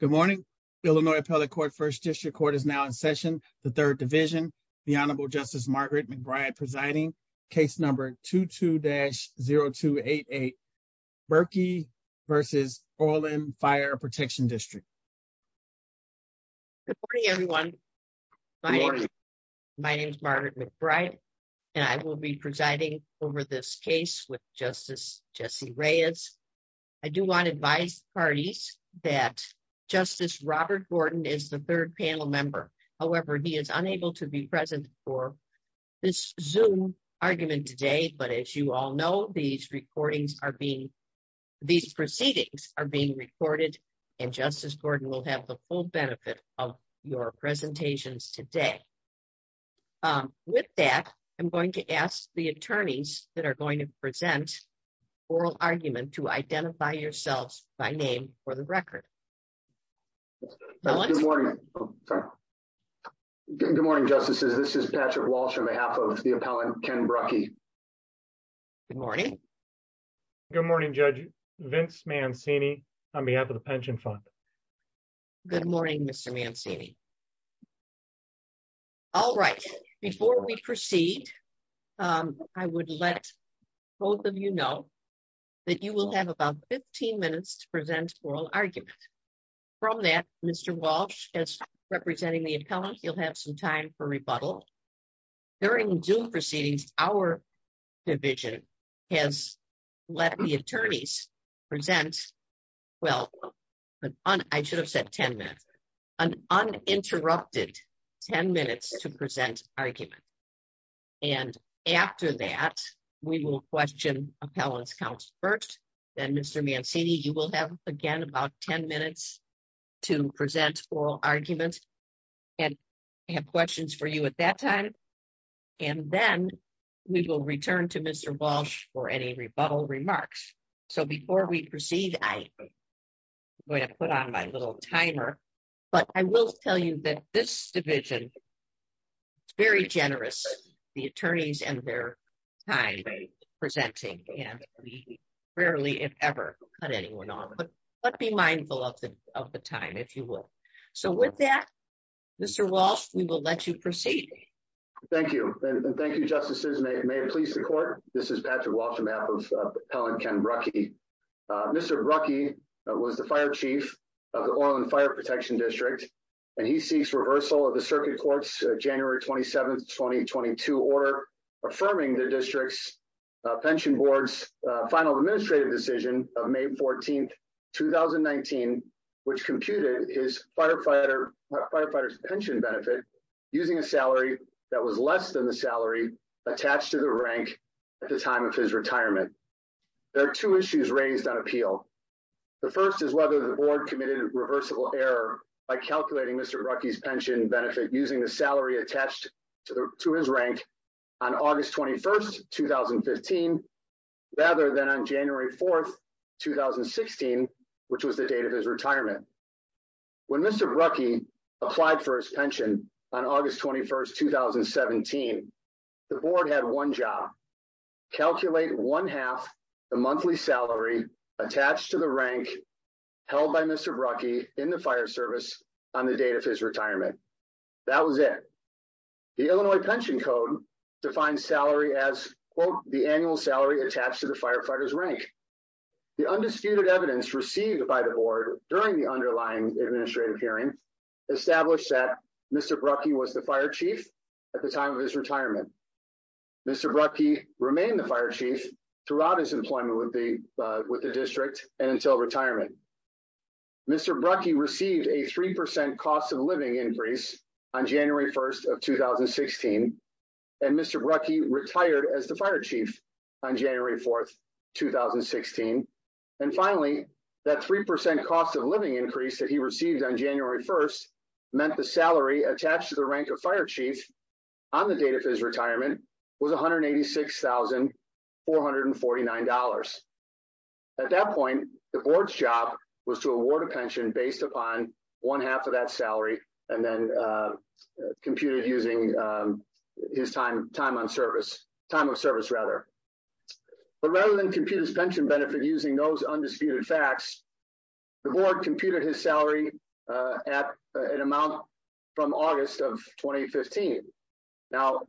Good morning. Illinois Appellate Court First District Court is now in session. The Third Division, the Honorable Justice Margaret McBride presiding, case number 22-0288, Brucki v. Orland Fire Protection District. Good morning, everyone. My name is Margaret McBride, and I will be presiding over this hearing. I do want to advise parties that Justice Robert Gordon is the third panel member. However, he is unable to be present for this Zoom argument today. But as you all know, these proceedings are being recorded, and Justice Gordon will have the full benefit of your presentations today. With that, I'm going to ask the attorneys that are going to present oral argument to identify yourselves by name for the record. Good morning. Good morning, Justices. This is Patrick Walsh on behalf of the appellant Ken Brucki. Good morning. Good morning, Judge. Vince Mancini on behalf of the Pension Fund. Good morning, Mr. Mancini. All right, before we proceed, I would let both of you know that you will have about 15 minutes to present oral argument. From that, Mr. Walsh, as representing the appellant, you'll have some time for rebuttal. During Zoom proceedings, our division has let the attorneys present, well, I should have said 10 minutes, uninterrupted 10 minutes to present argument. And after that, we will question appellant's counsel first, then Mr. Mancini, you will have again about 10 minutes to present oral argument and have questions for you at that time. And then we will return to Mr. Walsh for any rebuttal remarks. So before we proceed, I'm going to put on my little timer. But I will tell you that this division is very generous, the attorneys and their time presenting and we rarely, if ever, cut anyone off. But be mindful of the time, if you would. So with that, Mr. Walsh, we will let you proceed. Thank you. And thank you, Justices. May it please the court. This is Patrick Walsh, on behalf of Appellant Ken Brucky. Mr. Brucky was the Fire Chief of the Orland Fire Protection District. And he seeks reversal of the Circuit Court's January 27, 2022 order, affirming the district's pension board's final administrative decision of May 14, 2019, which computed his firefighter's pension benefit using a salary that was less than the salary attached to the rank at the time of his retirement. There are two issues raised on appeal. The first is whether the board committed a reversible error by calculating Mr. Brucky's August 21, 2015, rather than on January 4, 2016, which was the date of his retirement. When Mr. Brucky applied for his pension on August 21, 2017, the board had one job, calculate one half the monthly salary attached to the rank held by Mr. Brucky in the fire service on the date of his retirement. That was it. The Illinois Pension Code defines salary as, quote, the annual salary attached to the firefighter's rank. The undisputed evidence received by the board during the underlying administrative hearing established that Mr. Brucky was the Fire Chief at the time of his retirement. Mr. Brucky remained the Fire Chief throughout his employment with the district and until retirement. Mr. Brucky received a 3% cost of living increase on January 1, 2016, and Mr. Brucky retired as the Fire Chief on January 4, 2016. And finally, that 3% cost of living increase that he received on January 1 meant the salary attached to the rank of Fire Chief on the date of his retirement was $186,449. At that point, the board's job was to award a pension based upon one half of that salary and then computed using his time of service. But rather than compute his pension benefit using those undisputed facts, the board computed his salary at an amount from August of 2015. Now,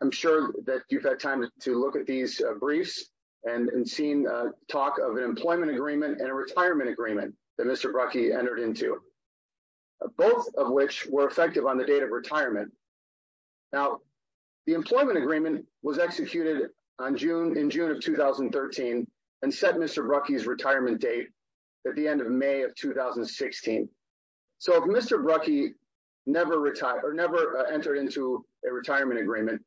I'm sure that you've had time to look at these briefs and seen talk of an employment agreement and a retirement agreement that Mr. Brucky entered into, both of which were effective on the date of retirement. Now, the employment agreement was executed in June of 2013 and set Mr. Brucky's retirement date at the end of May of 2016. So if Mr. Brucky never entered into a retirement agreement,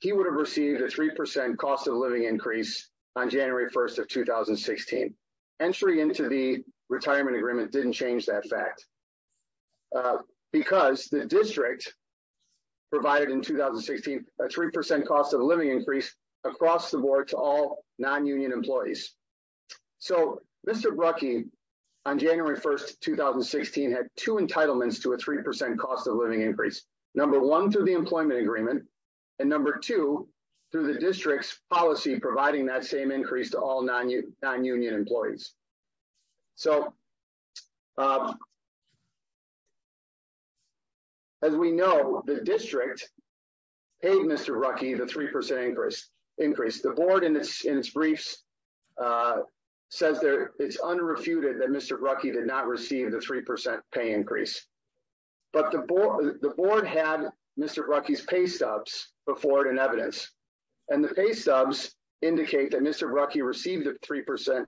he would have received a 3% cost of living increase on January 1, 2016. Entry into the retirement agreement didn't change that fact because the district provided in 2016 a 3% cost of living increase across the board to all non-union employees. So Mr. Brucky, on January 1, 2016, had two entitlements to a 3% cost of living increase. Number one, through the employment agreement, and number two, through the district's policy providing that same increase to all non-union employees. So as we know, the district paid Mr. Brucky the 3% increase. The board in its briefs says it's unrefuted that Mr. Brucky did not receive the 3% pay increase. But the board had Mr. Brucky's pay stubs before in evidence, and the pay stubs indicate that Mr. Brucky received a 3%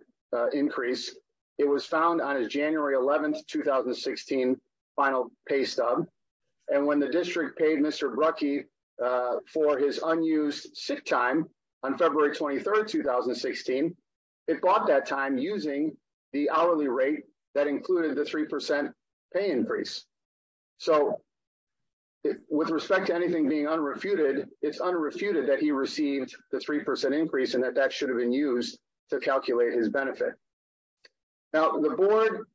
increase. It was found on his January 11, 2016 final pay stub. And when the district paid Mr. Brucky for his unused sick time on February 23, 2016, it bought that time using the hourly rate that included the 3% pay increase. So with respect to anything being unrefuted, it's unrefuted that he received the 3% increase and that that should have been used to calculate his benefit. Now the board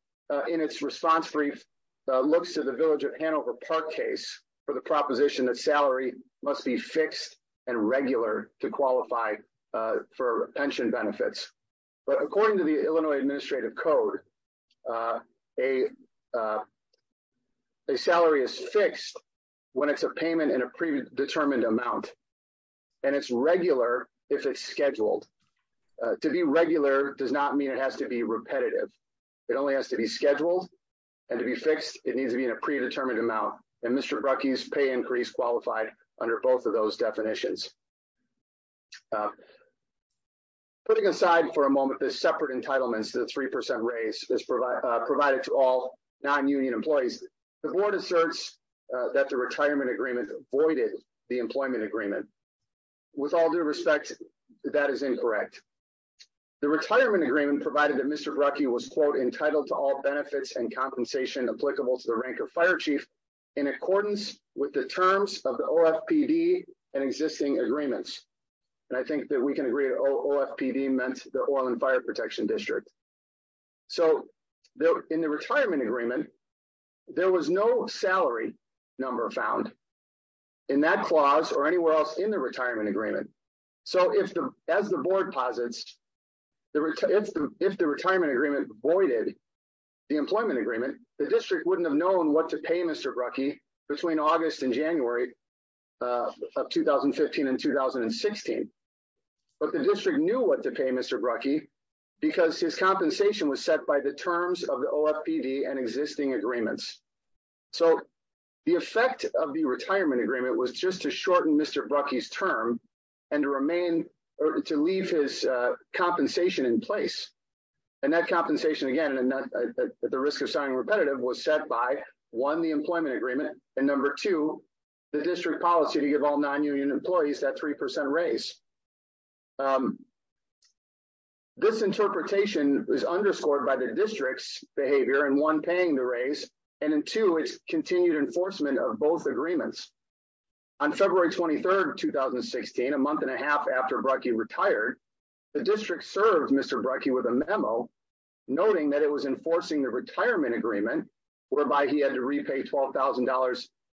in its response brief looks to the Village of Hanover Park case for the proposition that salary must be fixed and regular to qualify for pension benefits. But according to the Illinois Administrative Code, a salary is fixed when it's a payment in a predetermined amount. And it's regular if it's scheduled. To be regular does not mean it has to be repetitive. It only has to be scheduled. And to be fixed, it needs to be in a predetermined amount. And Mr. Brucky's pay increase qualified under both of those definitions. Putting aside for a moment, the separate entitlements to the 3% raise is provided to all non-union employees. The board asserts that the retirement agreement voided the employment agreement. With all due respect, that is incorrect. The retirement agreement provided that Mr. Brucky was, quote, entitled to all benefits and compensation applicable to the rank of fire chief in accordance with the terms of the OFPD and existing agreements. And I think that we can OFPD meant the Oil and Fire Protection District. So in the retirement agreement, there was no salary number found in that clause or anywhere else in the retirement agreement. So as the board posits, if the retirement agreement voided the employment agreement, the district wouldn't have known what to pay Mr. Brucky between August and January of 2015 and 2016. But the district knew what to pay Mr. Brucky because his compensation was set by the terms of the OFPD and existing agreements. So the effect of the retirement agreement was just to shorten Mr. Brucky's term and to remain or to leave his compensation in place. And that compensation, again, at the risk of sounding repetitive, was set by, one, the employment agreement, and, number two, the district policy to give all non-union employees that 3% raise. This interpretation is underscored by the district's behavior in, one, paying the raise, and in, two, its continued enforcement of both agreements. On February 23rd, 2016, a month and a half after Brucky retired, the district served Mr. Brucky with a memo noting that it was enforcing the retirement agreement, whereby he had to repay $12,000,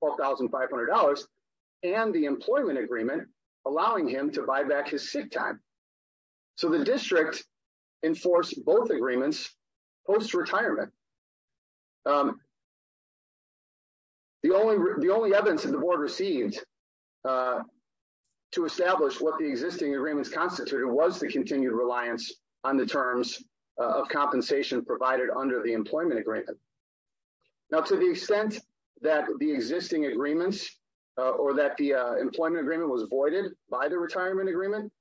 $12,500, and the employment agreement, allowing him to buy back his sick time. So the district enforced both agreements post-retirement. The only evidence that the board received to establish what the existing agreements constituted was the continued reliance on the terms of compensation provided under the employment agreement. Now, to the extent that the existing agreements or that the employment agreement was voided by the retirement agreement,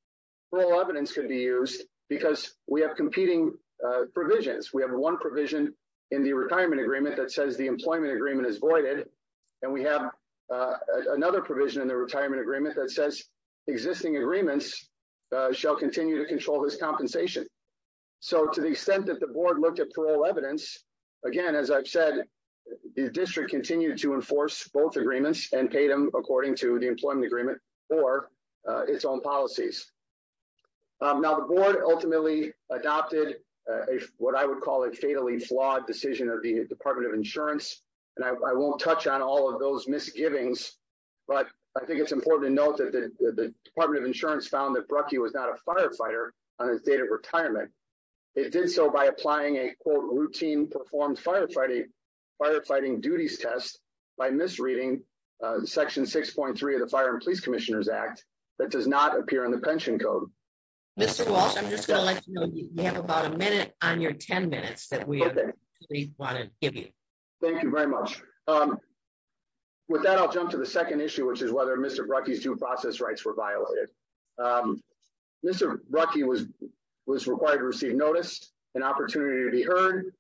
little evidence could be used because we have competing provisions. We have one provision in the retirement agreement that says the employment agreement is voided, and we have another provision in the retirement agreement that says existing agreements shall continue to control this compensation. So to the extent that the board looked at parole evidence, again, as I've said, the district continued to enforce both agreements and paid them according to the employment agreement or its own policies. Now, the board ultimately adopted what I would call a fatally flawed decision of the Department of Insurance, and I won't touch on all of those misgivings, but I think it's important to note that the Department of Insurance found that Brucky was not a firefighter on his date of retirement. It did so by applying a, quote, routine performed firefighting duties test by misreading Section 6.3 of the Fire and Police Commissioners Act that does not appear in the pension code. Mr. Walsh, I'm just going to let you know you have about a minute on your 10 minutes that we wanted to give you. Thank you very much. With that, I'll jump to the second issue, which is whether Mr. Brucky's due process rights were violated. Mr. Brucky was required to receive notice, an opportunity to be heard,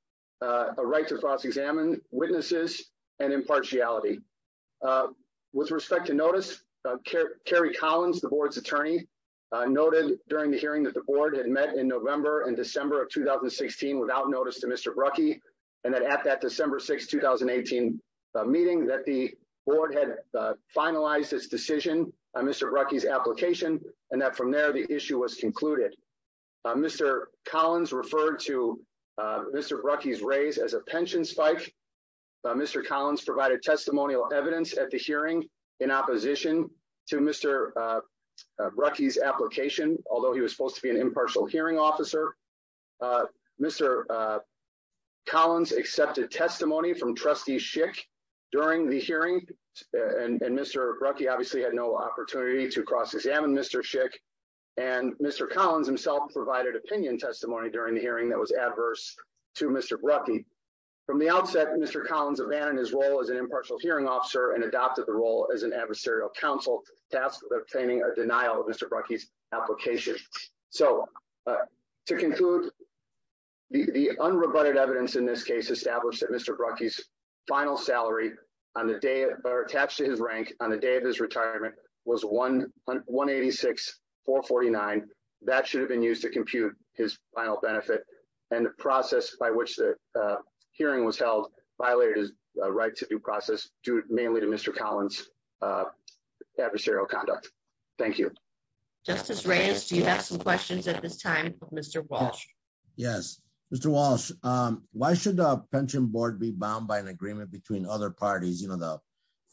a right to cross-examine, witnesses, and impartiality. With respect to notice, Kerry Collins, the board's attorney, noted during the hearing that the board had met in November and December of 2016 without notice to Mr. Brucky, and that at that December 6, 2018 meeting that the board had finalized its decision on Mr. Brucky's application, and that from there the issue was concluded. Mr. Collins referred to Mr. Brucky's raise as a pension spike. Mr. Collins provided testimonial evidence at the hearing in opposition to Mr. Brucky's application, although he was supposed to be an impartial hearing officer. Mr. Collins accepted testimony from Trustee Schick during the hearing, and Mr. Brucky obviously had no opportunity to cross-examine Mr. Schick, and Mr. Collins himself provided opinion testimony during the hearing that was adverse to Mr. Brucky. From the outset, Mr. Collins abandoned his role as an impartial hearing officer and adopted the role as an adversarial counsel tasked with obtaining a denial of Mr. Brucky's application. So, to conclude, the unrebutted evidence in this case established that Mr. Brucky's final salary on the day or attached to his rank on the day of his retirement was $186,449. That should have been used to compute his final benefit, and the process by which the hearing was held violated his right to due process due mainly to Mr. Collins' adversarial conduct. Thank you. Justice Reyes, do you have some questions at this time for Mr. Walsh? Yes. Mr. Walsh, why should the Pension Board be bound by an agreement between other parties, you know, the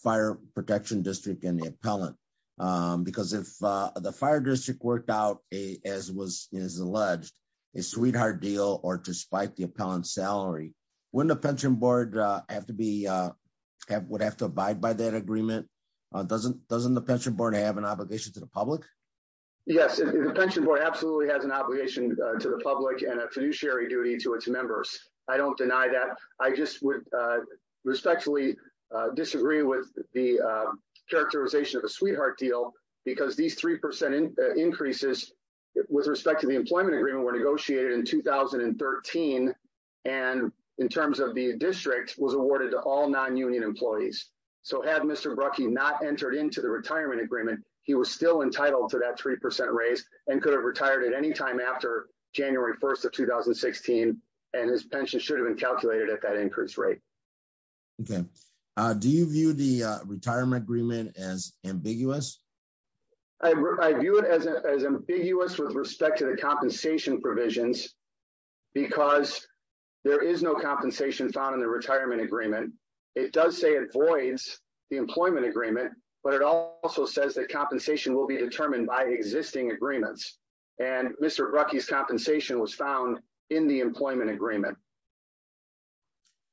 Fire Protection District and the appellant? Because if the Fire District worked out, as was alleged, a sweetheart deal or to spike the appellant's salary, wouldn't the Pension Board have to abide by that agreement? Doesn't the Pension Board have an obligation to the public? Yes, the Pension Board absolutely has an obligation to the public and a fiduciary duty to its members. I don't deny that. I just would respectfully disagree with the characterization of a sweetheart deal because these 3% increases with respect to the employment agreement were negotiated in 2013, and in terms of the district, was awarded to all non-union employees. So had Mr. Brucky not entered into the retirement agreement, he was still entitled to that 3% raise and could have retired at any time after January 1st of 2016, and his pension should have been calculated at that increased rate. Okay. Do you view the retirement agreement as ambiguous? I view it as ambiguous with respect to the compensation provisions because there is no compensation found in the retirement agreement. It does say it voids the employment agreement, but it also says that compensation will be determined by existing agreements, and Mr. Brucky's compensation was found in the employment agreement.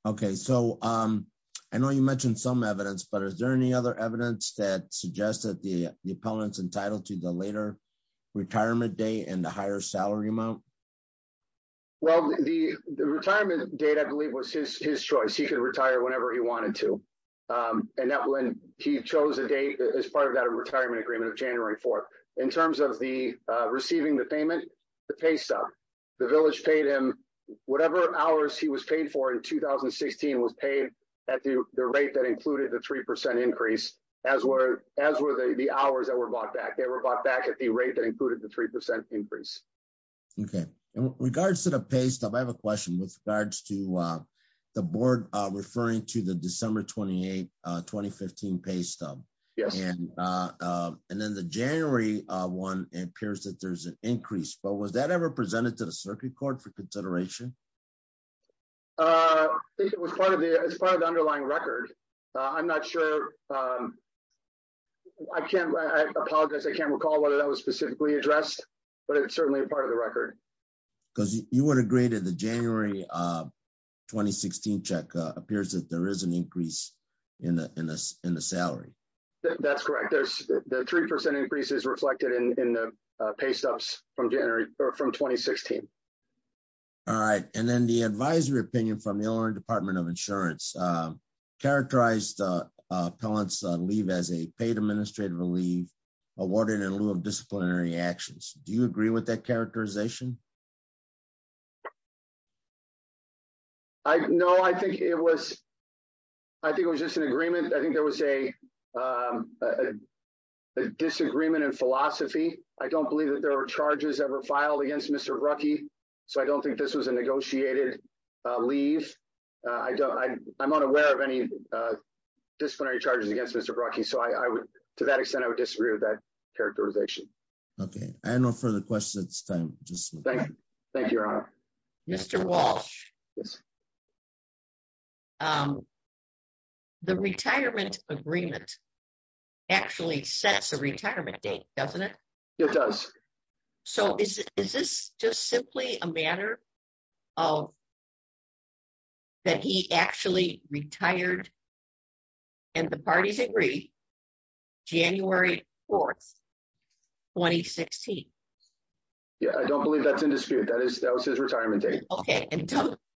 Okay, so I know you mentioned some evidence, but is there any other evidence that suggests that the appellant's entitled to the later retirement date and the higher salary amount? Well, the retirement date, I believe, was his choice. He could retire whenever he wanted to, and he chose a date as part of that retirement agreement of January 4th. In terms of the receiving the payment, the pay stub, the village paid him whatever hours he was paid for in 2016 was paid at the rate that included the 3% increase, as were the hours that were bought back. They were bought back at the rate that included the 3% increase. Okay. In regards to the pay stub, I have a question with regards to the board referring to the December 28, 2015 pay stub. Yes. And then the January one appears that there's an increase, but was that ever presented to the circuit court for consideration? I think it was part of the underlying record. I'm not sure. I apologize. I can't recall whether that was specifically addressed, but it's certainly a part of the record. Because you would agree that the January 2016 check appears that there is an increase in the salary? That's correct. The 3% increase is reflected in the pay stubs from 2016. All right. And then the advisory opinion from the Illinois Department of Insurance characterized Pellant's leave as a paid administrative leave awarded in lieu of disciplinary actions. Do you agree with that characterization? No, I think it was just an agreement. I think there was a disagreement in philosophy. I don't believe that there were charges ever filed against Mr. Ruckey, so I don't think this was a negotiated leave. I'm not aware of any disciplinary charges against Mr. Ruckey, so to that extent, I would disagree with that characterization. Okay. I have no further questions at this time. Thank you, Your Honor. Mr. Walsh, the retirement agreement actually sets a retirement date, doesn't it? It does. So is this just simply a matter of that he actually retired, and the parties agree, January 4, 2016? Yeah, I don't believe that's in dispute. That was his retirement date. Okay. And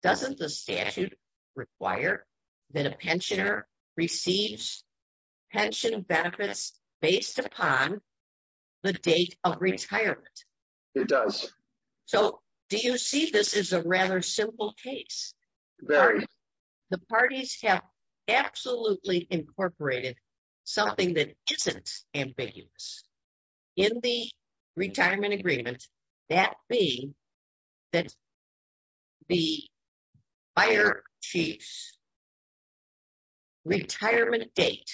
doesn't the statute require that a pensioner receives pension benefits based upon the date of retirement? It does. So do you see this as a rather simple case? Very. The parties have absolutely incorporated something that isn't ambiguous. In the retirement agreement, that being that the fire chief's retirement date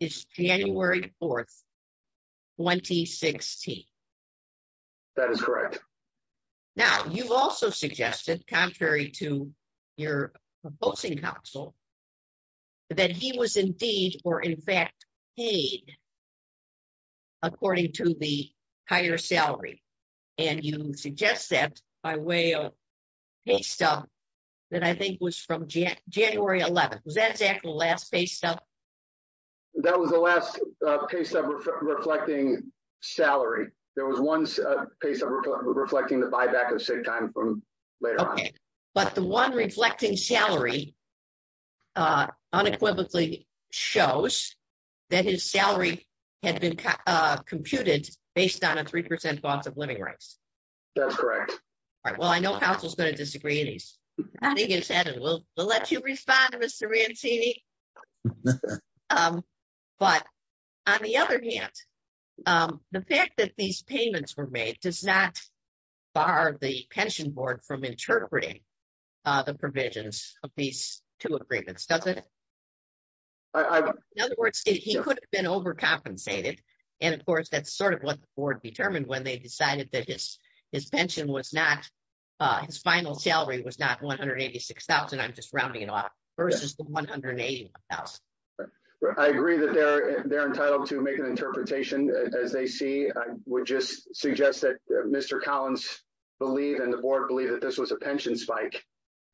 is January 4, 2016. That is correct. Now, you've also suggested, contrary to your opposing counsel, that he was indeed, or in fact, paid according to the higher salary. And you suggest that by way of pay stub that I think was from January 11. Was that exactly the last pay stub? That was the last pay stub reflecting salary. There was one pay stub reflecting the buyback of saved time from later on. Okay. But the one reflecting salary unequivocally shows that his salary had been computed based on a 3% loss of living rights. That's correct. All right. Well, I know counsel's going to disagree in these. I think it's added. We'll let you respond, Mr. Rancini. Um, but on the other hand, the fact that these payments were made does not bar the pension board from interpreting the provisions of these two agreements, does it? In other words, he could have been overcompensated. And of course, that's sort of what the board determined when they decided that his his pension was not, his final salary was not $186,000. I'm just rounding it off versus the $186,000. I agree that they're entitled to make an interpretation as they see. I would just suggest that Mr. Collins believed and the board believed that this was a pension spike,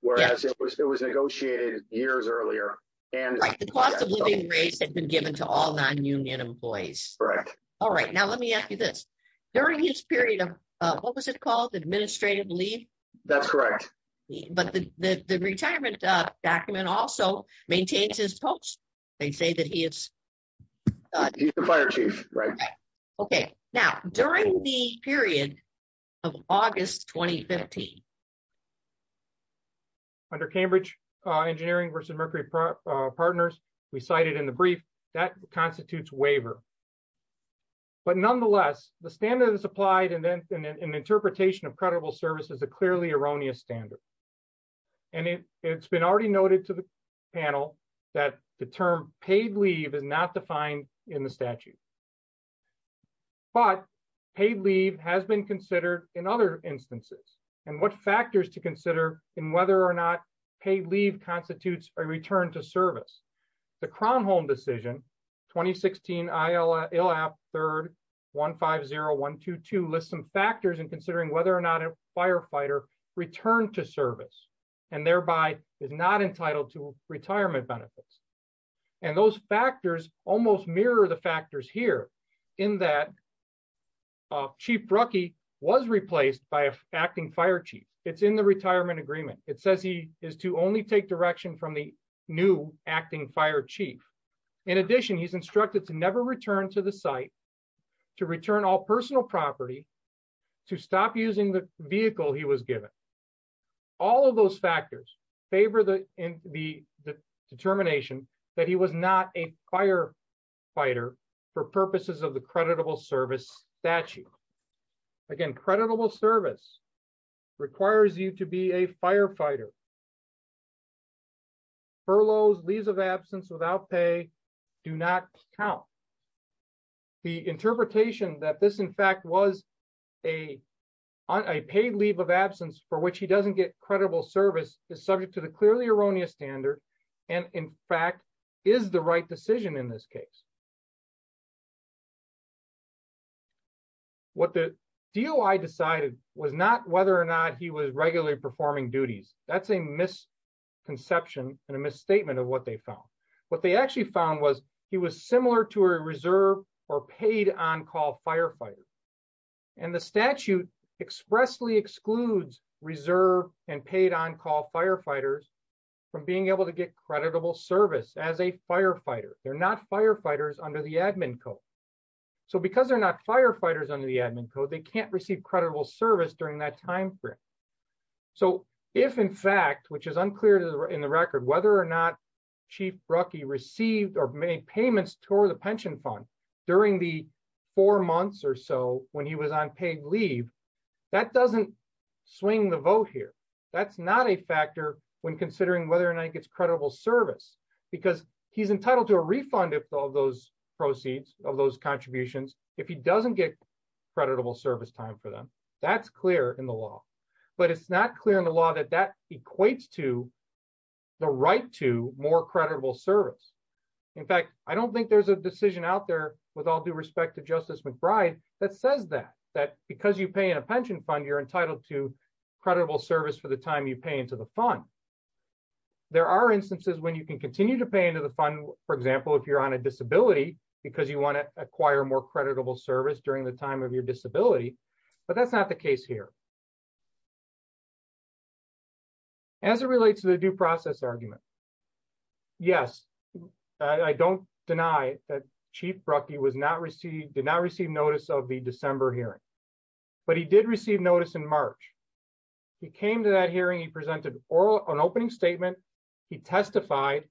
whereas it was negotiated years earlier. And the cost of living rates had been given to all non-union employees. Correct. All right. Now, let me ask you this. During his period of, what was it called? Administrative leave? That's correct. But the retirement document also maintains his post. They say that he is He's the fire chief, right? Okay. Now, during the period of August 2015. Under Cambridge Engineering versus Mercury Partners, we cited in the brief, that constitutes waiver. But nonetheless, the standard is applied and then an interpretation of credible service is a clearly erroneous standard. And it's been already noted to the panel that the term paid leave is not defined in the statute. But paid leave has been considered in other instances. And what factors to consider in whether or not paid leave constitutes a return to service. The Kronholm decision, 2016 ILAP 3rd 150122 lists some factors in considering whether or not a firefighter returned to service and thereby is not entitled to retirement benefits. And those factors almost mirror the factors here in that Chief Brucke was replaced by an acting fire chief. It's in the retirement agreement. It says he is to only take direction from the new acting fire chief. In addition, he's to return all personal property to stop using the vehicle he was given. All of those factors favor the determination that he was not a firefighter for purposes of the creditable service statute. Again, creditable service requires you to be a firefighter. Furloughs, leaves of absence without pay do not count. The interpretation that this in fact was a paid leave of absence for which he doesn't get credible service is subject to the clearly erroneous standard. And in fact, is the right decision in this case. What the DOI decided was not whether or not he was regularly performing duties. That's a misconception and a misstatement of what they found. What they actually found was he was similar to a reserve or paid on-call firefighter. And the statute expressly excludes reserve and paid on-call firefighters from being able to get creditable service as a firefighter. They're not firefighters under the admin code. So because they're not firefighters under the if in fact, which is unclear in the record, whether or not chief Brucky received or made payments toward the pension fund during the four months or so when he was on paid leave, that doesn't swing the vote here. That's not a factor when considering whether or not he gets credible service because he's entitled to a refund of all those proceeds of those contributions. If he doesn't get creditable service time for them, that's clear in the law, but it's not clear in that equates to the right to more credible service. In fact, I don't think there's a decision out there with all due respect to justice McBride that says that, that because you pay in a pension fund, you're entitled to credible service for the time you pay into the fund. There are instances when you can continue to pay into the fund. For example, if you're on a disability, because you want to acquire more creditable service during the time of your disability, but that's not the case here. As it relates to the due process argument, yes, I don't deny that chief Brucky did not receive notice of the December hearing, but he did receive notice in March. He came to that hearing, he presented an opening statement, he testified,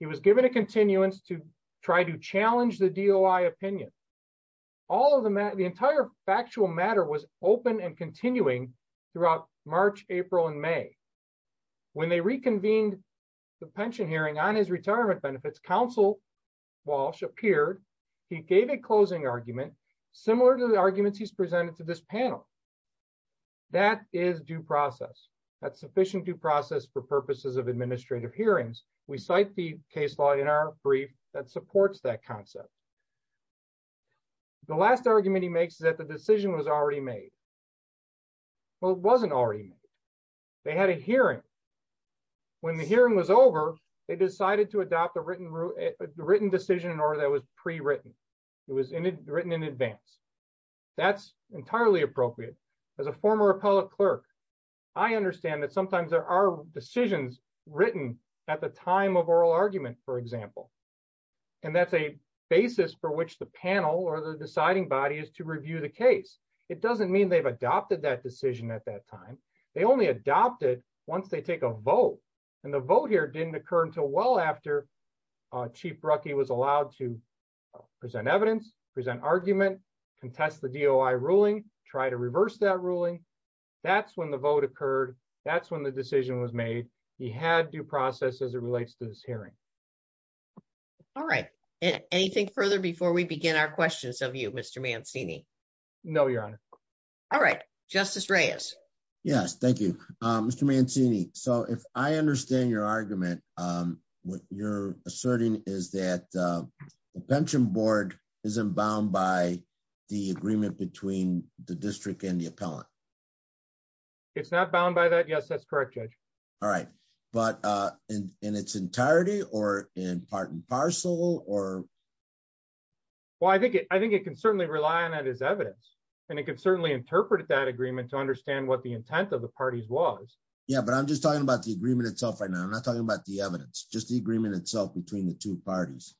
he was given a continuance to try to challenge the DOI opinion. All of the matter, the entire factual matter was open and continuing throughout March, April, and May. When they reconvened the pension hearing on his retirement benefits, counsel Walsh appeared, he gave a closing argument, similar to the arguments he's presented to this panel. That is due process. That's sufficient due process for purposes of administrative hearings. We cite the case law in our brief that supports that concept. The last argument he makes is that the decision was already made. Well, it wasn't already made. They had a hearing. When the hearing was over, they decided to adopt a written decision in order that was pre-written. It was written in advance. That's entirely appropriate. As a former appellate clerk, I understand that sometimes there are decisions written at the time of oral argument, for example. That's a basis for which the panel or the deciding body is to review the case. It doesn't mean they've adopted that decision at that time. They only adopted once they take a vote. The vote here didn't occur until well after Chief Ruckey was allowed to present evidence, present argument, contest the DOI ruling, try to reverse that ruling. That's when the vote occurred. That's when the decision was made. He had due process as it relates to this hearing. All right. Anything further before we begin our questions of you, Mr. Mancini? No, Your Honor. All right. Justice Reyes. Yes. Thank you, Mr. Mancini. If I understand your argument, what you're asserting is that the Pension Board isn't bound by the agreement between the district and the appellant. It's not bound by that? Yes, that's correct, Judge. All right. But in its entirety or in part and parcel or? Well, I think it can certainly rely on that as evidence, and it can certainly interpret that agreement to understand what the intent of the parties was. Yeah, but I'm just talking about the agreement itself right now. I'm not talking about the evidence, just the agreement itself between the two parties.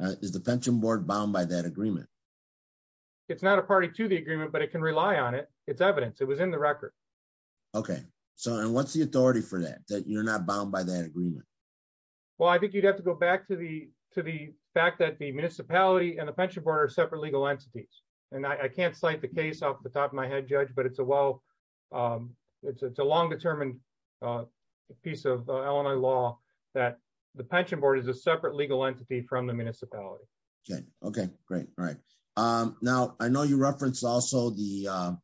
Is the Pension Board bound by that agreement? It's not a party to the agreement, but it can rely on it. It's evidence. It was in the You're not bound by that agreement? Well, I think you'd have to go back to the fact that the municipality and the Pension Board are separate legal entities. And I can't cite the case off the top of my head, Judge, but it's a long-determined piece of Illinois law that the Pension Board is a separate legal entity from the municipality. Okay. Great. All right. Now, I know you referenced also the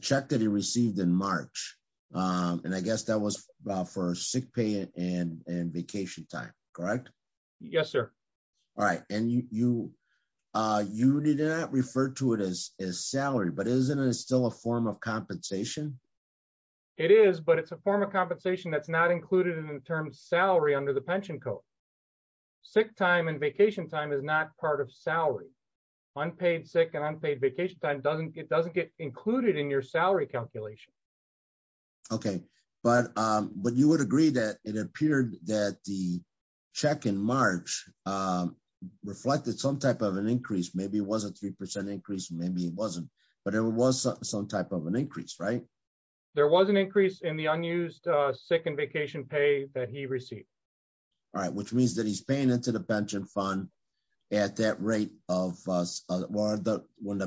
check that received in March, and I guess that was for sick pay and vacation time, correct? Yes, sir. All right. And you did not refer to it as salary, but isn't it still a form of compensation? It is, but it's a form of compensation that's not included in the term salary under the pension code. Sick time and vacation time is not part of salary. Unpaid, sick and unpaid vacation time, it doesn't get included in your salary calculation. Okay. But you would agree that it appeared that the check in March reflected some type of an increase. Maybe it was a 3% increase, maybe it wasn't, but it was some type of an increase, right? There was an increase in the unused sick and vacation pay that he received. All right. Which means that he's paying into the pension fund at that rate of,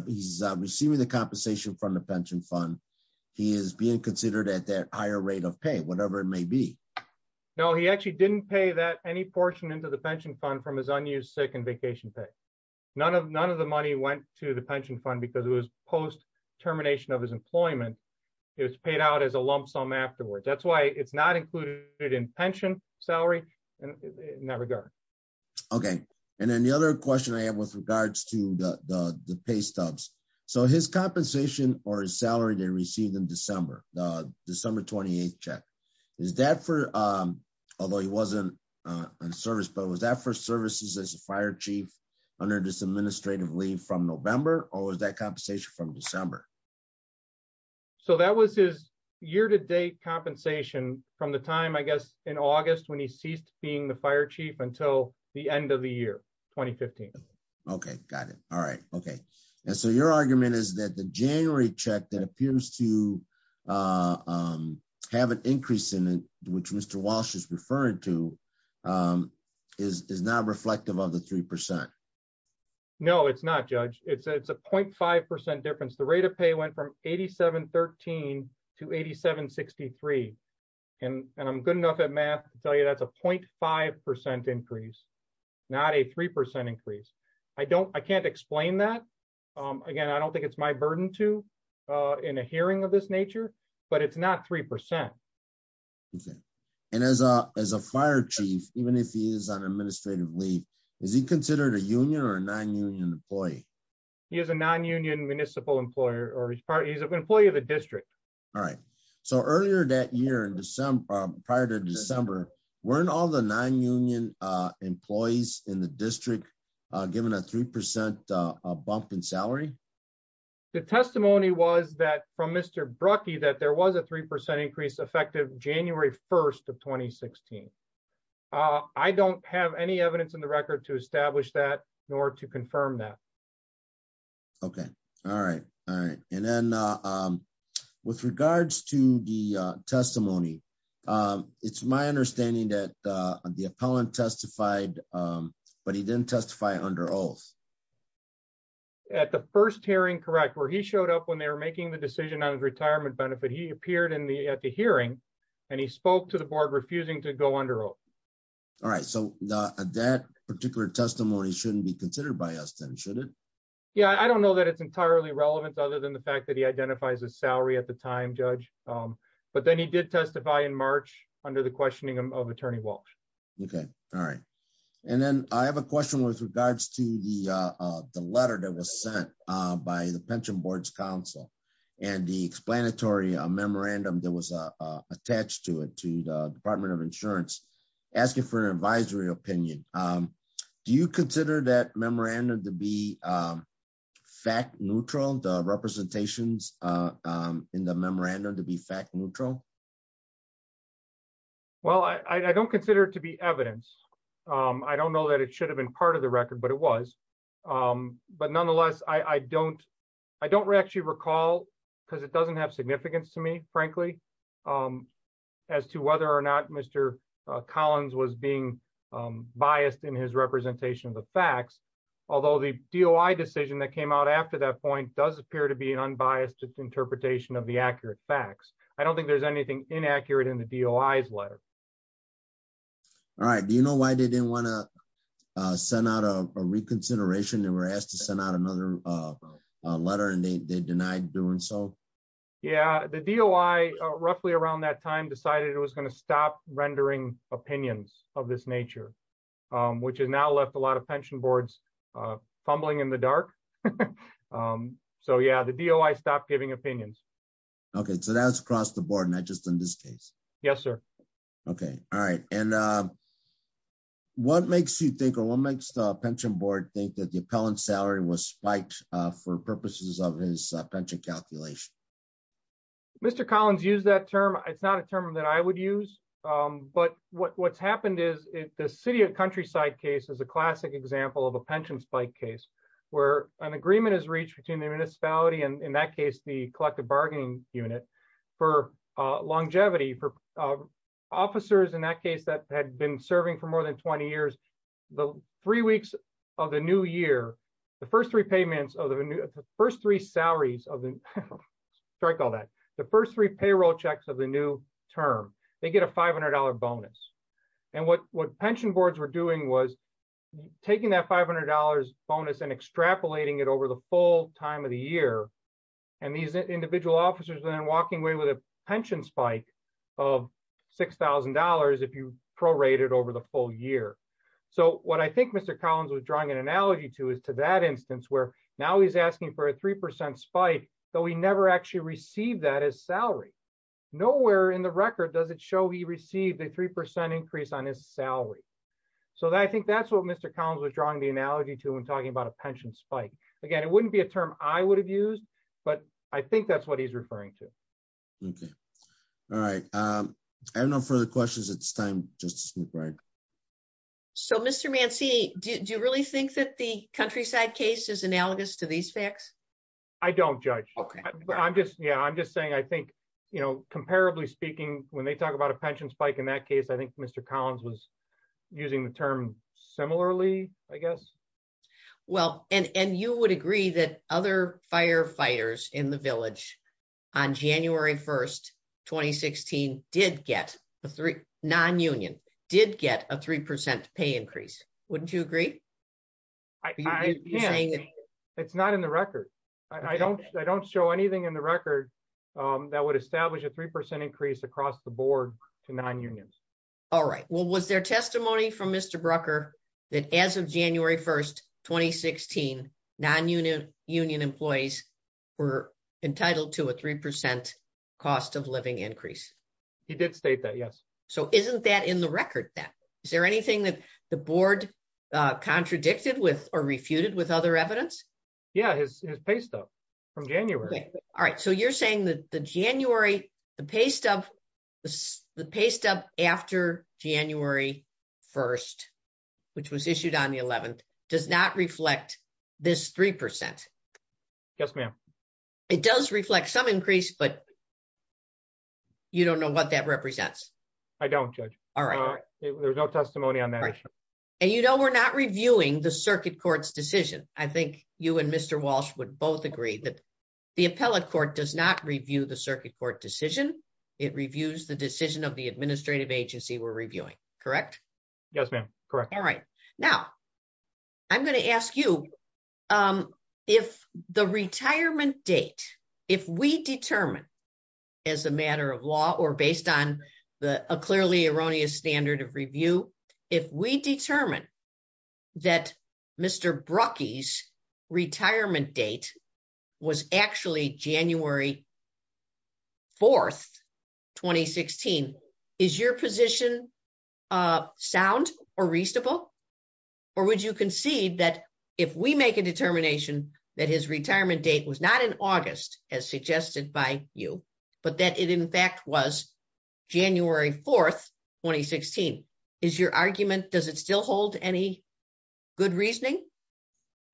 he's receiving the compensation from the pension fund, he is being considered at that higher rate of pay, whatever it may be. No, he actually didn't pay that any portion into the pension fund from his unused sick and vacation pay. None of the money went to the pension fund because it was post-termination of his employment, it was paid out as a lump sum afterwards. That's why it's not included in pension salary in that regard. Okay. And then the other question I have with regards to the pay stubs. So his compensation or his salary they received in December, the December 28th check, is that for, although he wasn't on service, but was that for services as a fire chief under this administrative leave from November or was that compensation from December? So that was his year-to-date compensation from the time, I guess, in August when he ceased being the fire chief until the end of the year, 2015. Okay. Got it. All right. Okay. And so your argument is that the January check that appears to have an increase in it, which Mr. Walsh is referring to, is not reflective of the 3%? No, it's not, Judge. It's a 0.5% difference. The rate of pay went from $87.13 to $87.63. And I'm good enough at math to tell you that's a 0.5% increase, not a 3% increase. I can't explain that. Again, I don't think it's my burden to in a hearing of this nature, but it's not 3%. Okay. And as a fire chief, even if he is on administrative leave, is he considered a union or a non-union employee? He is a non-union municipal employer or he's an employee of the district. All right. So earlier that year in December, prior to December, weren't all the non-union employees in the district given a 3% bump in salary? The testimony was that from Mr. Brucky, that there was a 3% increase effective January 1st of 2016. I don't have any evidence in the record to establish that nor to confirm that. Okay. All right. All right. And then with regards to the testimony, it's my understanding that the appellant testified, but he didn't testify under oath. At the first hearing, correct, where he showed up when they were making the decision on his retirement benefit, he appeared in the, at the hearing and he spoke to the board refusing to go under oath. All right. So that particular testimony shouldn't be considered by us then, should it? Yeah. I don't know that it's entirely relevant other than the fact that he identifies his salary at the time, judge. But then he did testify in March under the questioning of attorney Walsh. Okay. All right. And then I have a question with regards to the letter that was sent by the pension board's council and the explanatory memorandum that was attached to it, to the department of insurance, asking for an advisory opinion. Do you consider that memorandum to be fact neutral, the representations in the memorandum to be fact neutral? Well, I don't consider it to be evidence. I don't know that it should have been part of the record, but it was. But nonetheless, I don't, I don't actually recall because it doesn't have significance to me, frankly, as to whether or not Mr. Collins was being biased in his representation of the facts. Although the DOI decision that came out after that point does appear to be an unbiased interpretation of the accurate facts. I don't think there's anything inaccurate in the DOI's letter. All right. Do you know why they didn't want to send out a reconsideration? They were asked to send out another letter and they denied doing so? Yeah, the DOI roughly around that time decided it was going to stop rendering opinions of this nature, which has now left a lot of pension boards fumbling in the dark. So yeah, the DOI stopped giving opinions. Okay. So that's across the board, not just in this case. Yes, sir. Okay. All right. And what makes you think, or what makes the pension board think that the appellant's salary was spiked for purposes of his pension calculation? Mr. Collins used that term. It's not a term that I would use. But what's happened is the city of countryside case is a classic example of a pension spike case, where an agreement is reached between the municipality and in that case, the collective bargaining unit for longevity for officers in that case that had been serving for more than 20 years, the three weeks of the new year, the first three payments of the first three salaries of the strike, all that the first three payroll checks of the new term, they get a $500 bonus. And what what pension boards were doing was taking that $500 bonus and extrapolating it over the full time of the year. And these individual officers then walking away with a pension spike of $6,000 if you prorated over the full year. So what I think Mr. Collins was drawing an analogy to is to that instance, where now he's asking for a 3% spike, though he never actually received that as salary. Nowhere in the record does it show he received a 3% increase on his salary. So I think that's what Mr. Collins was drawing the analogy to when talking about a pension spike. Again, it wouldn't be a term I would have used, but I think that's what he's referring to. Okay. All right. I have no further questions. It's time just to move right. So Mr. Mancy, do you really think that the countryside case is analogous to these facts? I don't judge. Okay. I'm just Yeah, I'm just saying, I think, you know, comparably speaking, when they talk about a pension spike, in that case, I think Mr. Collins was using the term similarly, I guess. Well, and and you would agree that other firefighters in the village on January 1, 2016, did get a three non union did get a 3% pay increase. Wouldn't you agree? It's not in the record. I don't I don't show anything in the record that would establish a 3% increase across the board to non unions. All right. Well, was there testimony from Mr. Brucker, that as of January 1, 2016, non unit union employees were entitled to a 3% cost of living increase? He did state that. Yes. So isn't that in the record that is there anything that the board contradicted with or refuted with other evidence? Yeah, his pay stub from January. All right. So you're saying that the January, the pay stub, the pay stub after January 1, which was issued on the 11th does not reflect this 3%. Yes, ma'am. It does reflect some increase, but you don't know what that represents. I don't judge. All right. There's no testimony on that. And you know, we're not reviewing the circuit courts decision. I think you and Mr. Walsh would both agree that the appellate court does not decision. It reviews the decision of the administrative agency we're reviewing. Correct? Yes, ma'am. Correct. All right. Now, I'm going to ask you if the retirement date, if we determine as a matter of law or based on the clearly erroneous standard of review, if we determine that Mr. Brucky's retirement date was actually January 4, 2016, is your position sound or reasonable? Or would you concede that if we make a determination that his retirement date was not in August, as suggested by you, but that it in fact was January 4, 2016, is your argument, does it still hold any good reasoning?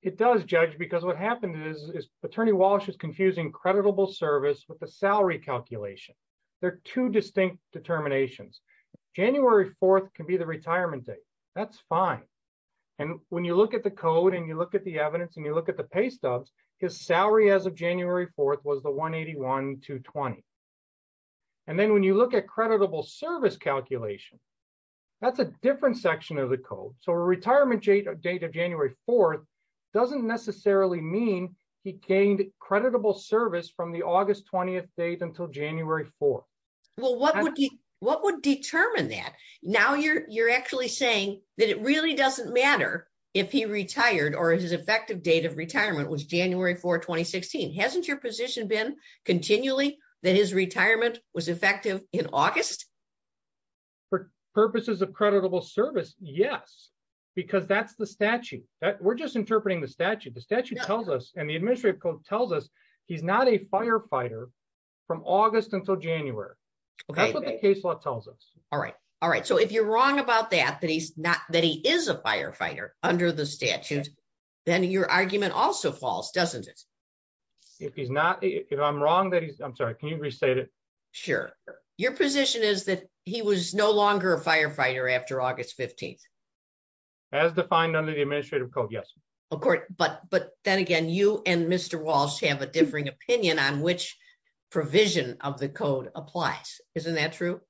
It does, Judge, because what happened is Attorney Walsh was confusing creditable service with the salary calculation. They're two distinct determinations. January 4 can be the retirement date. That's fine. And when you look at the code and you look at the evidence and you look at the pay stubs, his salary as of January 4 was the $181,220. And then when you look at creditable service calculation, that's a different section of the code. So a retirement date of January 4 doesn't necessarily mean he gained creditable service from the August 20th date until January 4. Well, what would determine that? Now you're actually saying that it really doesn't matter if he retired or his effective date of retirement was January 4, 2016. Hasn't your position been continually that his retirement was effective in August? For purposes of creditable service, yes, because that's the statute. We're just interpreting the statute. The statute tells us and the administrative code tells us he's not a firefighter from August until January. That's what the case law tells us. All right. All right. So if you're wrong about that, that he is a firefighter under the statute, then your argument also falls, doesn't it? If he's not, if I'm wrong that he's, I'm sorry, can you restate it? Sure. Your position is that he was no longer a firefighter after August 15th. As defined under the administrative code, yes. Of course. But then again, you and Mr. Walsh have a differing opinion on which provision of the code applies. Isn't that true?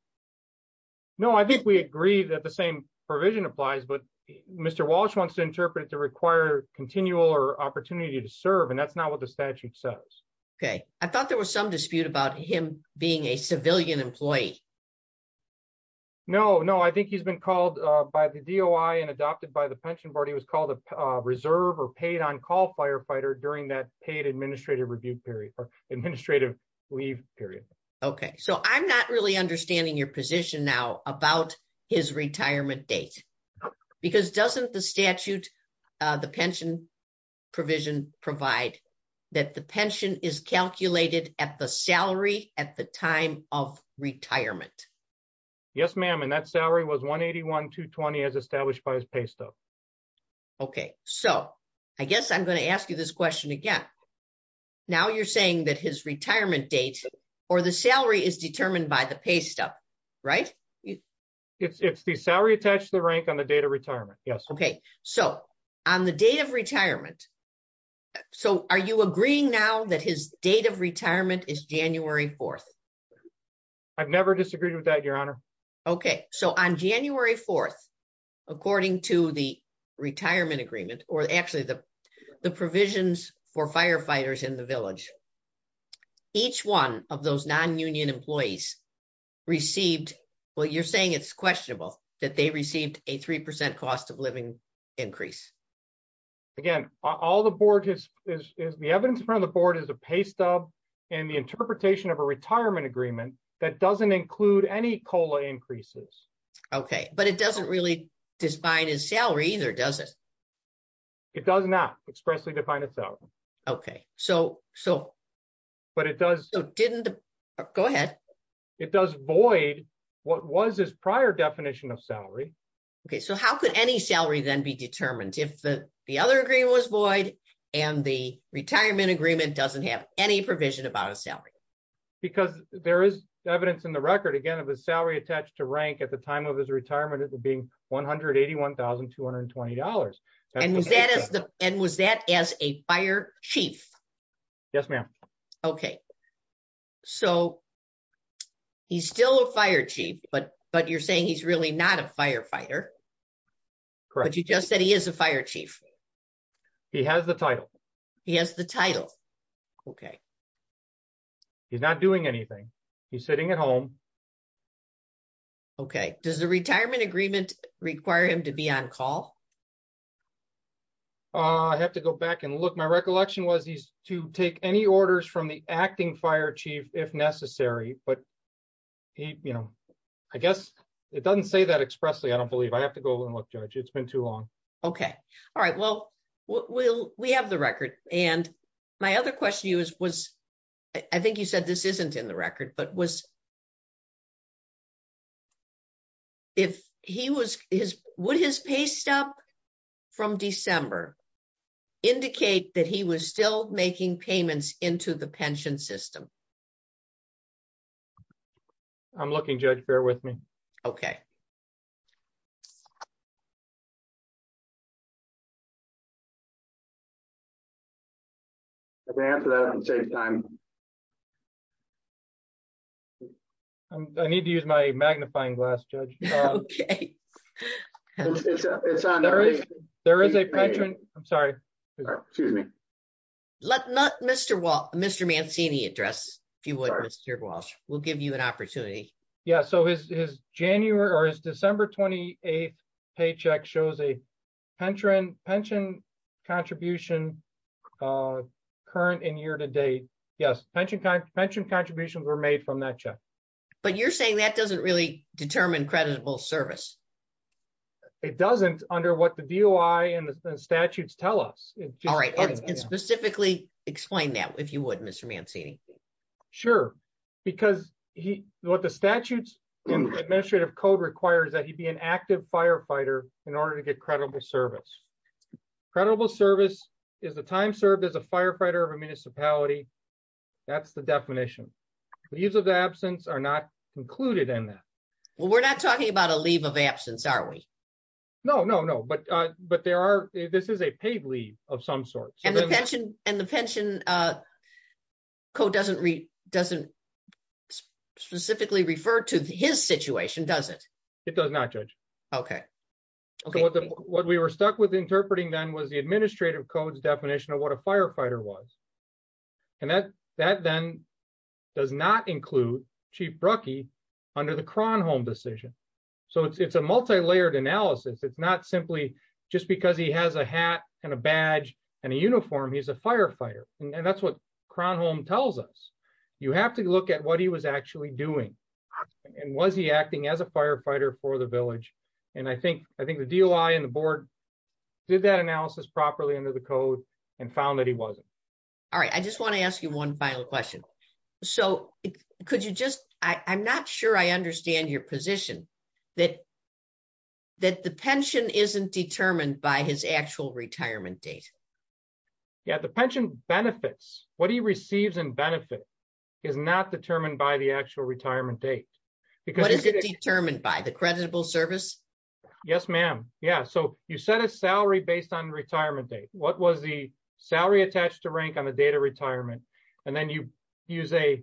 No, I think we agree that the same provision applies, but Mr. Walsh wants to interpret it to require continual or opportunity to serve. And that's not what the statute says. Okay. I thought there was some dispute about him being a civilian employee. No, no. I think he's been called by the DOI and adopted by the pension board. He was called a reserve or paid on call firefighter during that paid administrative review period or administrative leave period. Okay. So I'm not really understanding your position now about his retirement date because doesn't the statute, the pension provision provide that the pension is calculated at the salary at the time of retirement? Yes, ma'am. And that salary was 181, 220 as established by his pay stuff. Okay. So I guess I'm going to ask you this question again. Now you're saying that his right. It's the salary attached to the rank on the date of retirement. Yes. Okay. So on the date of retirement. So are you agreeing now that his date of retirement is January 4th? I've never disagreed with that, your honor. Okay. So on January 4th, according to the retirement agreement or actually the provisions for firefighters in the village, each one of those non-union employees received, well, you're saying it's questionable that they received a 3% cost of living increase. Again, all the board has is the evidence in front of the board is a pay stub and the interpretation of a retirement agreement that doesn't include any COLA increases. Okay. But it doesn't really define his salary either. It does not expressly define itself. Okay. So, so, but it does, go ahead. It does void. What was his prior definition of salary? Okay. So how could any salary then be determined if the other agreement was void and the retirement agreement doesn't have any provision about a salary? Because there is evidence in the record, again, of a salary attached to rank at the time of his retirement. And was that as the, and was that as a fire chief? Yes, ma'am. Okay. So he's still a fire chief, but, but you're saying he's really not a firefighter. Correct. You just said he is a fire chief. He has the title. He has the title. Okay. He's not doing anything. He's sitting at home. Okay. Does the retirement agreement require him to be on call? I have to go back and look. My recollection was he's to take any orders from the acting fire chief if necessary, but he, you know, I guess it doesn't say that expressly. I don't believe I have to go and look, judge. It's been too long. Okay. All right. Well, we'll, we have the record. And my other question to you is, was, I think you said this isn't in the record, but was, if he was his, would his pay stub from December indicate that he was still making payments into the pension system? I'm looking, judge, bear with me. Okay. I need to use my magnifying glass judge. There is a pension. I'm sorry. Excuse me. Let not Mr. Walt, Mr. Mancini address. If you would, Mr. Walsh, we'll give you an opportunity. Yeah. So his, his January or his December 28th paycheck shows a penchant pension contribution current in year to date. Yes. Pension pension contributions were made from that check. But you're saying that doesn't really determine creditable service. It doesn't under what the DOI and the statutes tell us. Specifically explain that if you would, Mr. Mancini. Sure. Because he, what the statutes administrative code requires that he'd be an active firefighter in order to get credible service. Credible service is the time served as a firefighter of a municipality. That's the definition. The use of the absence are not included in that. Well, we're not talking about a leave of absence, are we? No, no, no. But, but there are, this is a paid leave of some sort. And the pension code doesn't read, doesn't specifically refer to his situation. Does it? It does not judge. Okay. What we were stuck with interpreting then was the administrative codes definition of what a firefighter was. And that, that then does not include chief Brucky under the Kronholm decision. So it's, it's a multi-layered analysis. It's not simply just because he has a hat and a badge and a uniform, he's a firefighter. And that's what Kronholm tells us. You have to look at what he was actually doing and was he acting as a firefighter for the village? And I think, I think the DOI and the board did that analysis properly under the code and found that he wasn't. All right. I just want to ask you one final question. So could you just, I, I'm not sure I understand your position that, that the pension isn't determined by his actual retirement date. Yeah. The pension benefits, what he receives in benefit is not determined by the actual retirement date. What is it determined by? The creditable service? Yes, ma'am. Yeah. So you set a salary based on retirement date. What was the salary attached to rank on the date of retirement? And then you use a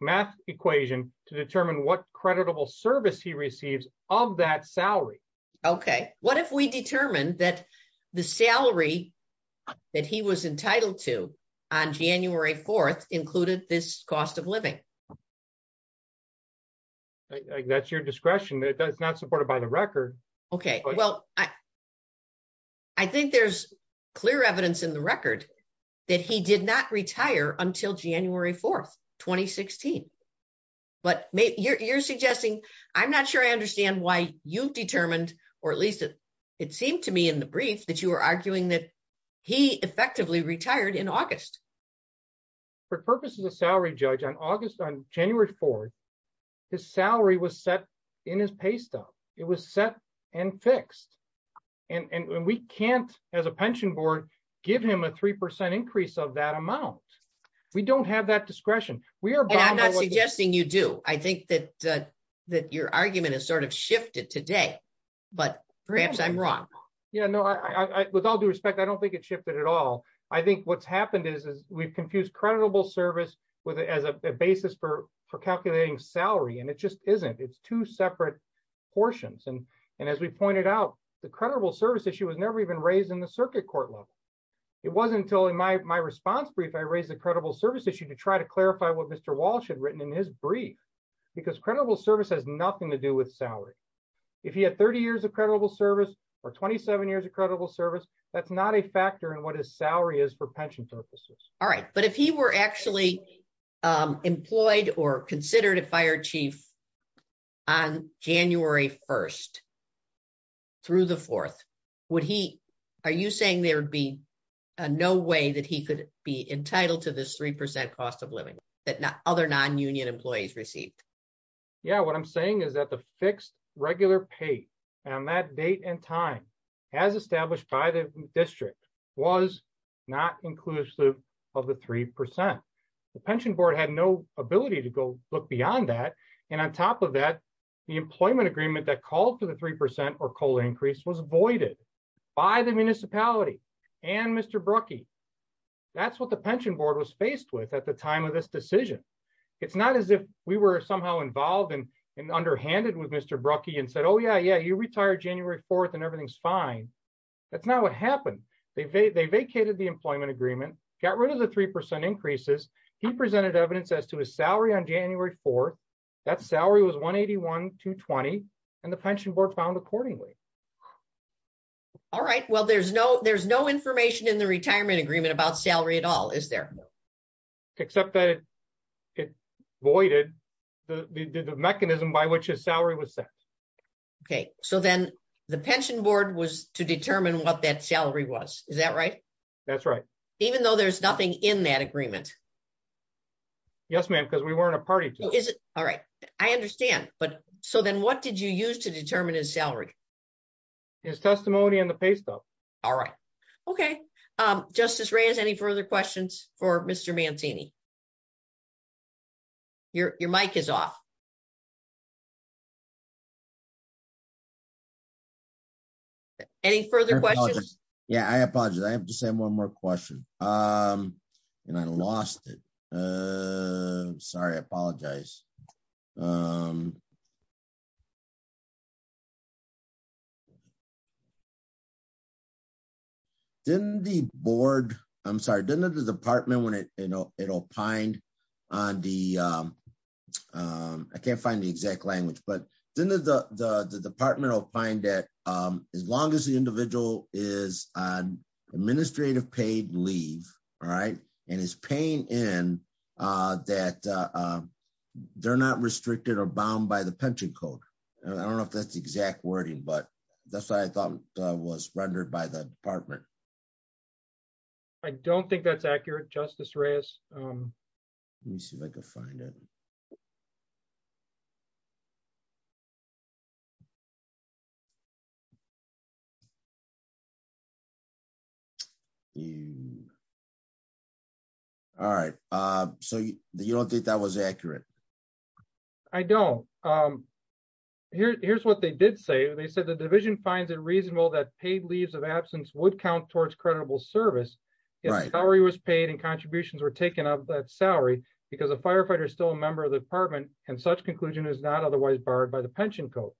math equation to determine what creditable service he receives of that salary. Okay. What if we determined that the salary that he was entitled to on January 4th included this cost of living? That's your discretion. That's not supported by the record. Okay. Well, I, I think there's clear evidence in the record that he did not retire until January 4th, 2016. But you're, you're suggesting, I'm not sure I understand why you've determined, or at least it seemed to me in the brief that you were arguing that he effectively retired in August. For purposes of salary judge on August, on January 4th, his salary was set in his pay stub. It was set and fixed. And we can't as a pension board, give him a 3% increase of that amount. We don't have that discretion. We are not suggesting you do. I think that that your argument is sort of shifted today, but perhaps I'm wrong. Yeah, no, I, with all due respect, I don't think it shifted at all. I think what's happened is, is we've confused creditable service with as a basis for, for calculating salary. And it just isn't, it's two separate portions. And as we pointed out, the credible service issue was never even raised in the circuit court level. It wasn't until in my, my response brief, I raised the credible service issue to try to clarify what Mr. Walsh had written in his brief, because credible service has nothing to do with salary. If he had 30 years of credible service or 27 years of credible service, that's not a factor in what his salary is for pension purposes. All right. But if he were actually employed or considered a fire chief on January 1st through the 4th, would he, are you saying there'd be no way that he could be entitled to this 3% cost of living that other non-union employees received? Yeah, what I'm saying is that the fixed regular pay on that date and time as established by the federal government, look beyond that. And on top of that, the employment agreement that called for the 3% or COLA increase was avoided by the municipality and Mr. Brucky. That's what the pension board was faced with at the time of this decision. It's not as if we were somehow involved in and underhanded with Mr. Brucky and said, oh yeah, yeah, you retire January 4th and everything's fine. That's not what happened. They vacated the employment agreement, got rid of the 3% increases. He presented evidence as to his salary on January 4th. That salary was 181,220, and the pension board found accordingly. All right. Well, there's no information in the retirement agreement about salary at all, is there? Except that it voided the mechanism by which his salary was set. Okay. So then the pension board was to determine what that salary was. Is that right? That's right. Even though there's nothing in that agreement? Yes, ma'am. Because we weren't a party to it. All right. I understand. But so then what did you use to determine his salary? His testimony and the pay stuff. All right. Okay. Justice Reyes, any further questions for Mr. Mancini? Your mic is off. Okay. Any further questions? Yeah, I apologize. I have to say one more question, and I lost it. Sorry, I apologize. Didn't the board, I'm sorry, didn't the department when it opined on the can't find the exact language, but then the department will find that as long as the individual is on administrative paid leave, all right, and is paying in that they're not restricted or bound by the pension code. I don't know if that's the exact wording, but that's what I thought was rendered by the department. I don't think that's accurate, Justice Reyes. Let me see if I can find it. All right. So you don't think that was accurate? I don't. Here's what they did say. They said the division finds it reasonable that paid leaves of absence would count towards creditable service. If salary was paid and contributions were taken of that salary because a firefighter is still a member of the department and such conclusion is not otherwise barred by the pension code.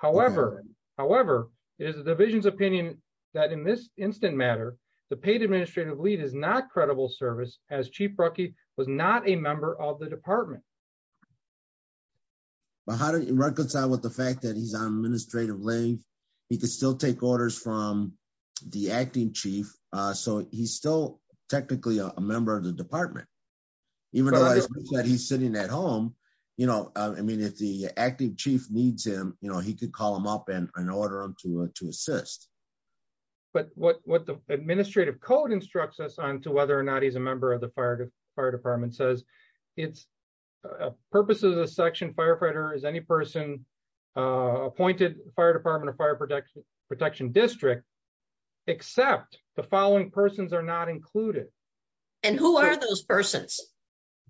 However, it is the division's opinion that in this instant matter, the paid administrative leave is not credible service as Chief Brucky was not a member of the department. But how do you reconcile with the fact that he's on administrative leave? He could still take orders from the acting chief. So he's still technically a member of the department. Even though he's sitting at home, you know, I mean, if the acting chief needs him, you know, he could call him up and order him to assist. But what the administrative code instructs us on to whether or not he's a member of the fire department says it's purposes of section firefighter is any person appointed fire department or fire protection protection district, except the following persons are not included. And who are those persons?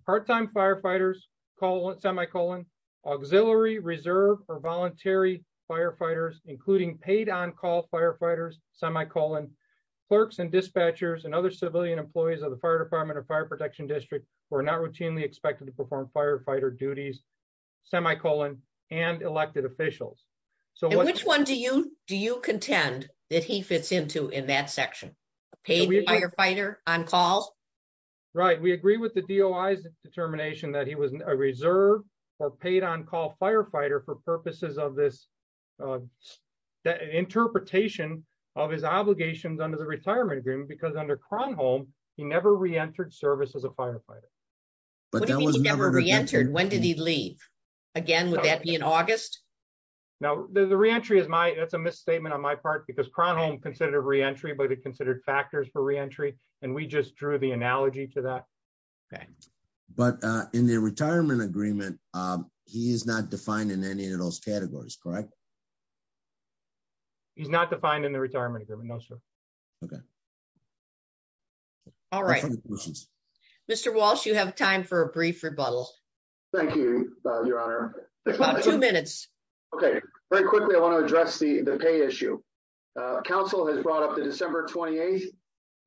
Part-time firefighters call it semicolon auxiliary reserve or voluntary firefighters, including paid on call firefighters, semicolon clerks and dispatchers and other civilian employees of the fire department or fire protection district. We're not routinely expected to perform firefighter duties, semicolon and elected officials. So which one do you do you contend that he fits into in that section, paid firefighter on call? Right, we agree with the DOI's determination that he was a reserve or paid on call firefighter for purposes of this interpretation of his obligations under the retirement agreement because under Cronholm, he never re-entered service as a firefighter. But that was never re-entered. When did he leave? Again, would that be in August? No, the re-entry is my, that's a misstatement on my part because Cronholm considered re-entry, but it considered factors for re-entry. And we just drew the analogy to that. Okay. But in the retirement agreement, he is not defined in any of those All right. Mr. Walsh, you have time for a brief rebuttal. Thank you, your honor. Two minutes. Okay. Very quickly, I want to address the pay issue. Council has brought up the December 28th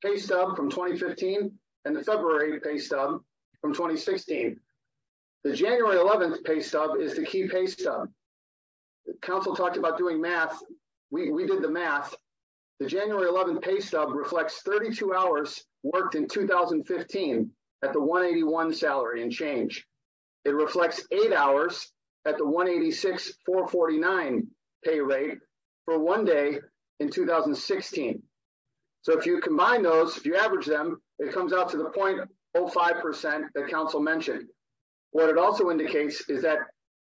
pay stub from 2015 and the February pay stub from 2016. The January 11th pay stub is the key pay stub. Council talked about doing math. We did the math. The January 11th pay stub reflects 32 hours worked in 2015 at the 181 salary and change. It reflects eight hours at the 186, 449 pay rate for one day in 2016. So if you combine those, if you average them, it comes out to the 0.05% that council mentioned. What it also indicates is that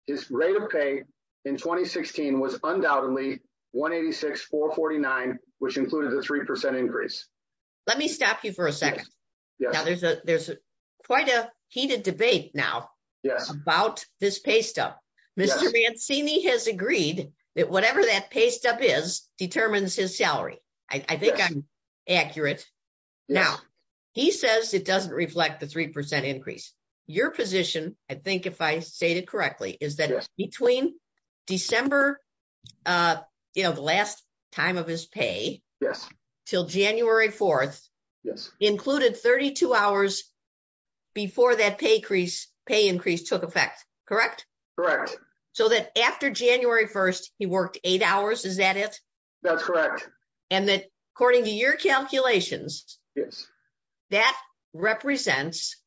his rate of pay in 2016 was undoubtedly 186, 449, which included a 3% increase. Let me stop you for a second. There's quite a heated debate now about this pay stub. Mr. Mancini has agreed that whatever that pay stub is determines his salary. I think I'm accurate. Now, he says it doesn't reflect the 3% increase. Your position, I think if I say it correctly, is that between December, you know, the last time of his pay, till January 4th, included 32 hours before that pay increase took effect, correct? Correct. So that after January 1st, he worked eight hours, is that it? That's correct. And that according to your calculations, that represents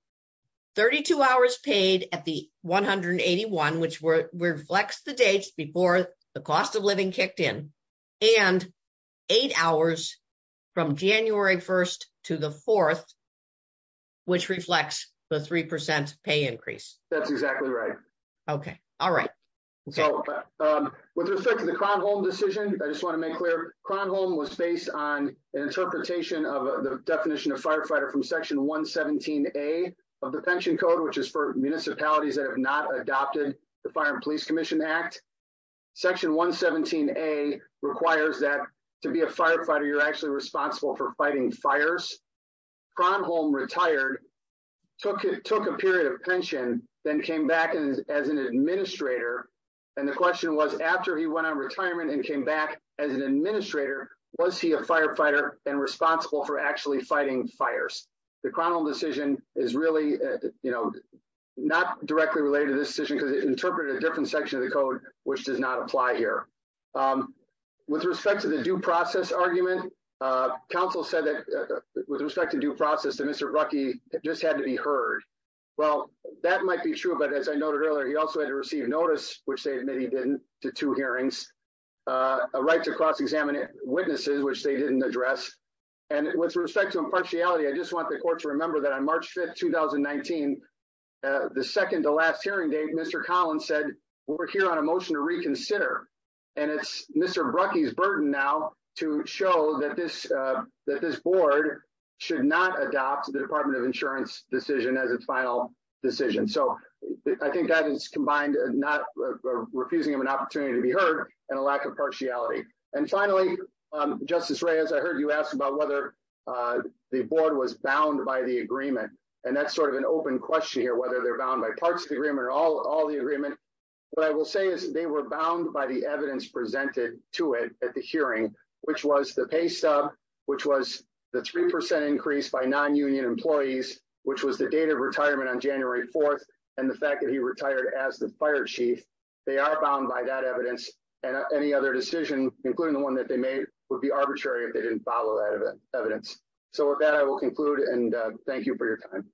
32 hours paid at the 181, which reflects the dates before the cost of living kicked in, and eight hours from January 1st to the 4th, which reflects the 3% pay increase. That's exactly right. Okay. All right. With respect to the Kronholm decision, I just want to make clear, Kronholm was based on an interpretation of the definition of firefighter from section 117A of the pension code, which is for municipalities that have not adopted the Fire and Police Commission Act. Section 117A requires that to be a firefighter, you're actually responsible for fighting fires. Kronholm retired, took a period of pension, then came back as an administrator. And the question was, after he went on retirement and came back as an administrator, was he a firefighter and responsible for actually fighting fires? The Kronholm decision is really, you know, not directly related to this decision, because it interpreted a different section of the code, which does not apply here. With respect to the due process argument, counsel said that, with respect to due process, that Mr. Ruckey just had to be heard. Well, that might be true, but as I noted earlier, he also had to receive notice, which they admitted he didn't, to two hearings, a right to cross-examine witnesses, which they didn't address. And with respect to impartiality, I just want the court to remember that on March 5th, 2019, the second to last hearing date, Mr. Collins said, we're here on a motion to reconsider. And it's Mr. Ruckey's burden now to show that this board should not adopt the Department of Insurance decision as its final decision. So I think that is combined, not refusing of an opportunity to be heard and a lack of partiality. And finally, Justice Reyes, I heard you ask about whether the board was bound by the agreement. And that's sort of an open question here, whether they're bound by parts of the agreement or all the agreement. What I will say is they were bound by the evidence presented to it at the hearing, which was the pay stub, which was the 3% increase by non-union employees, which was the date of retirement on January 4th. And the fact that he retired as the fire chief, they are bound by that evidence and any other decision, including the one that they made, would be arbitrary if they didn't follow that evidence. So with that, I will conclude and thank you for your time.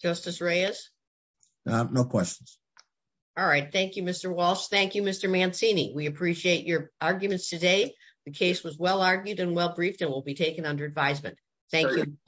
Justice Reyes. No questions. All right. Thank you, Mr. Walsh. Thank you, Mr. Mancini. We appreciate your arguments today. The case was well-argued and well-briefed and will be taken under advisement. Thank you.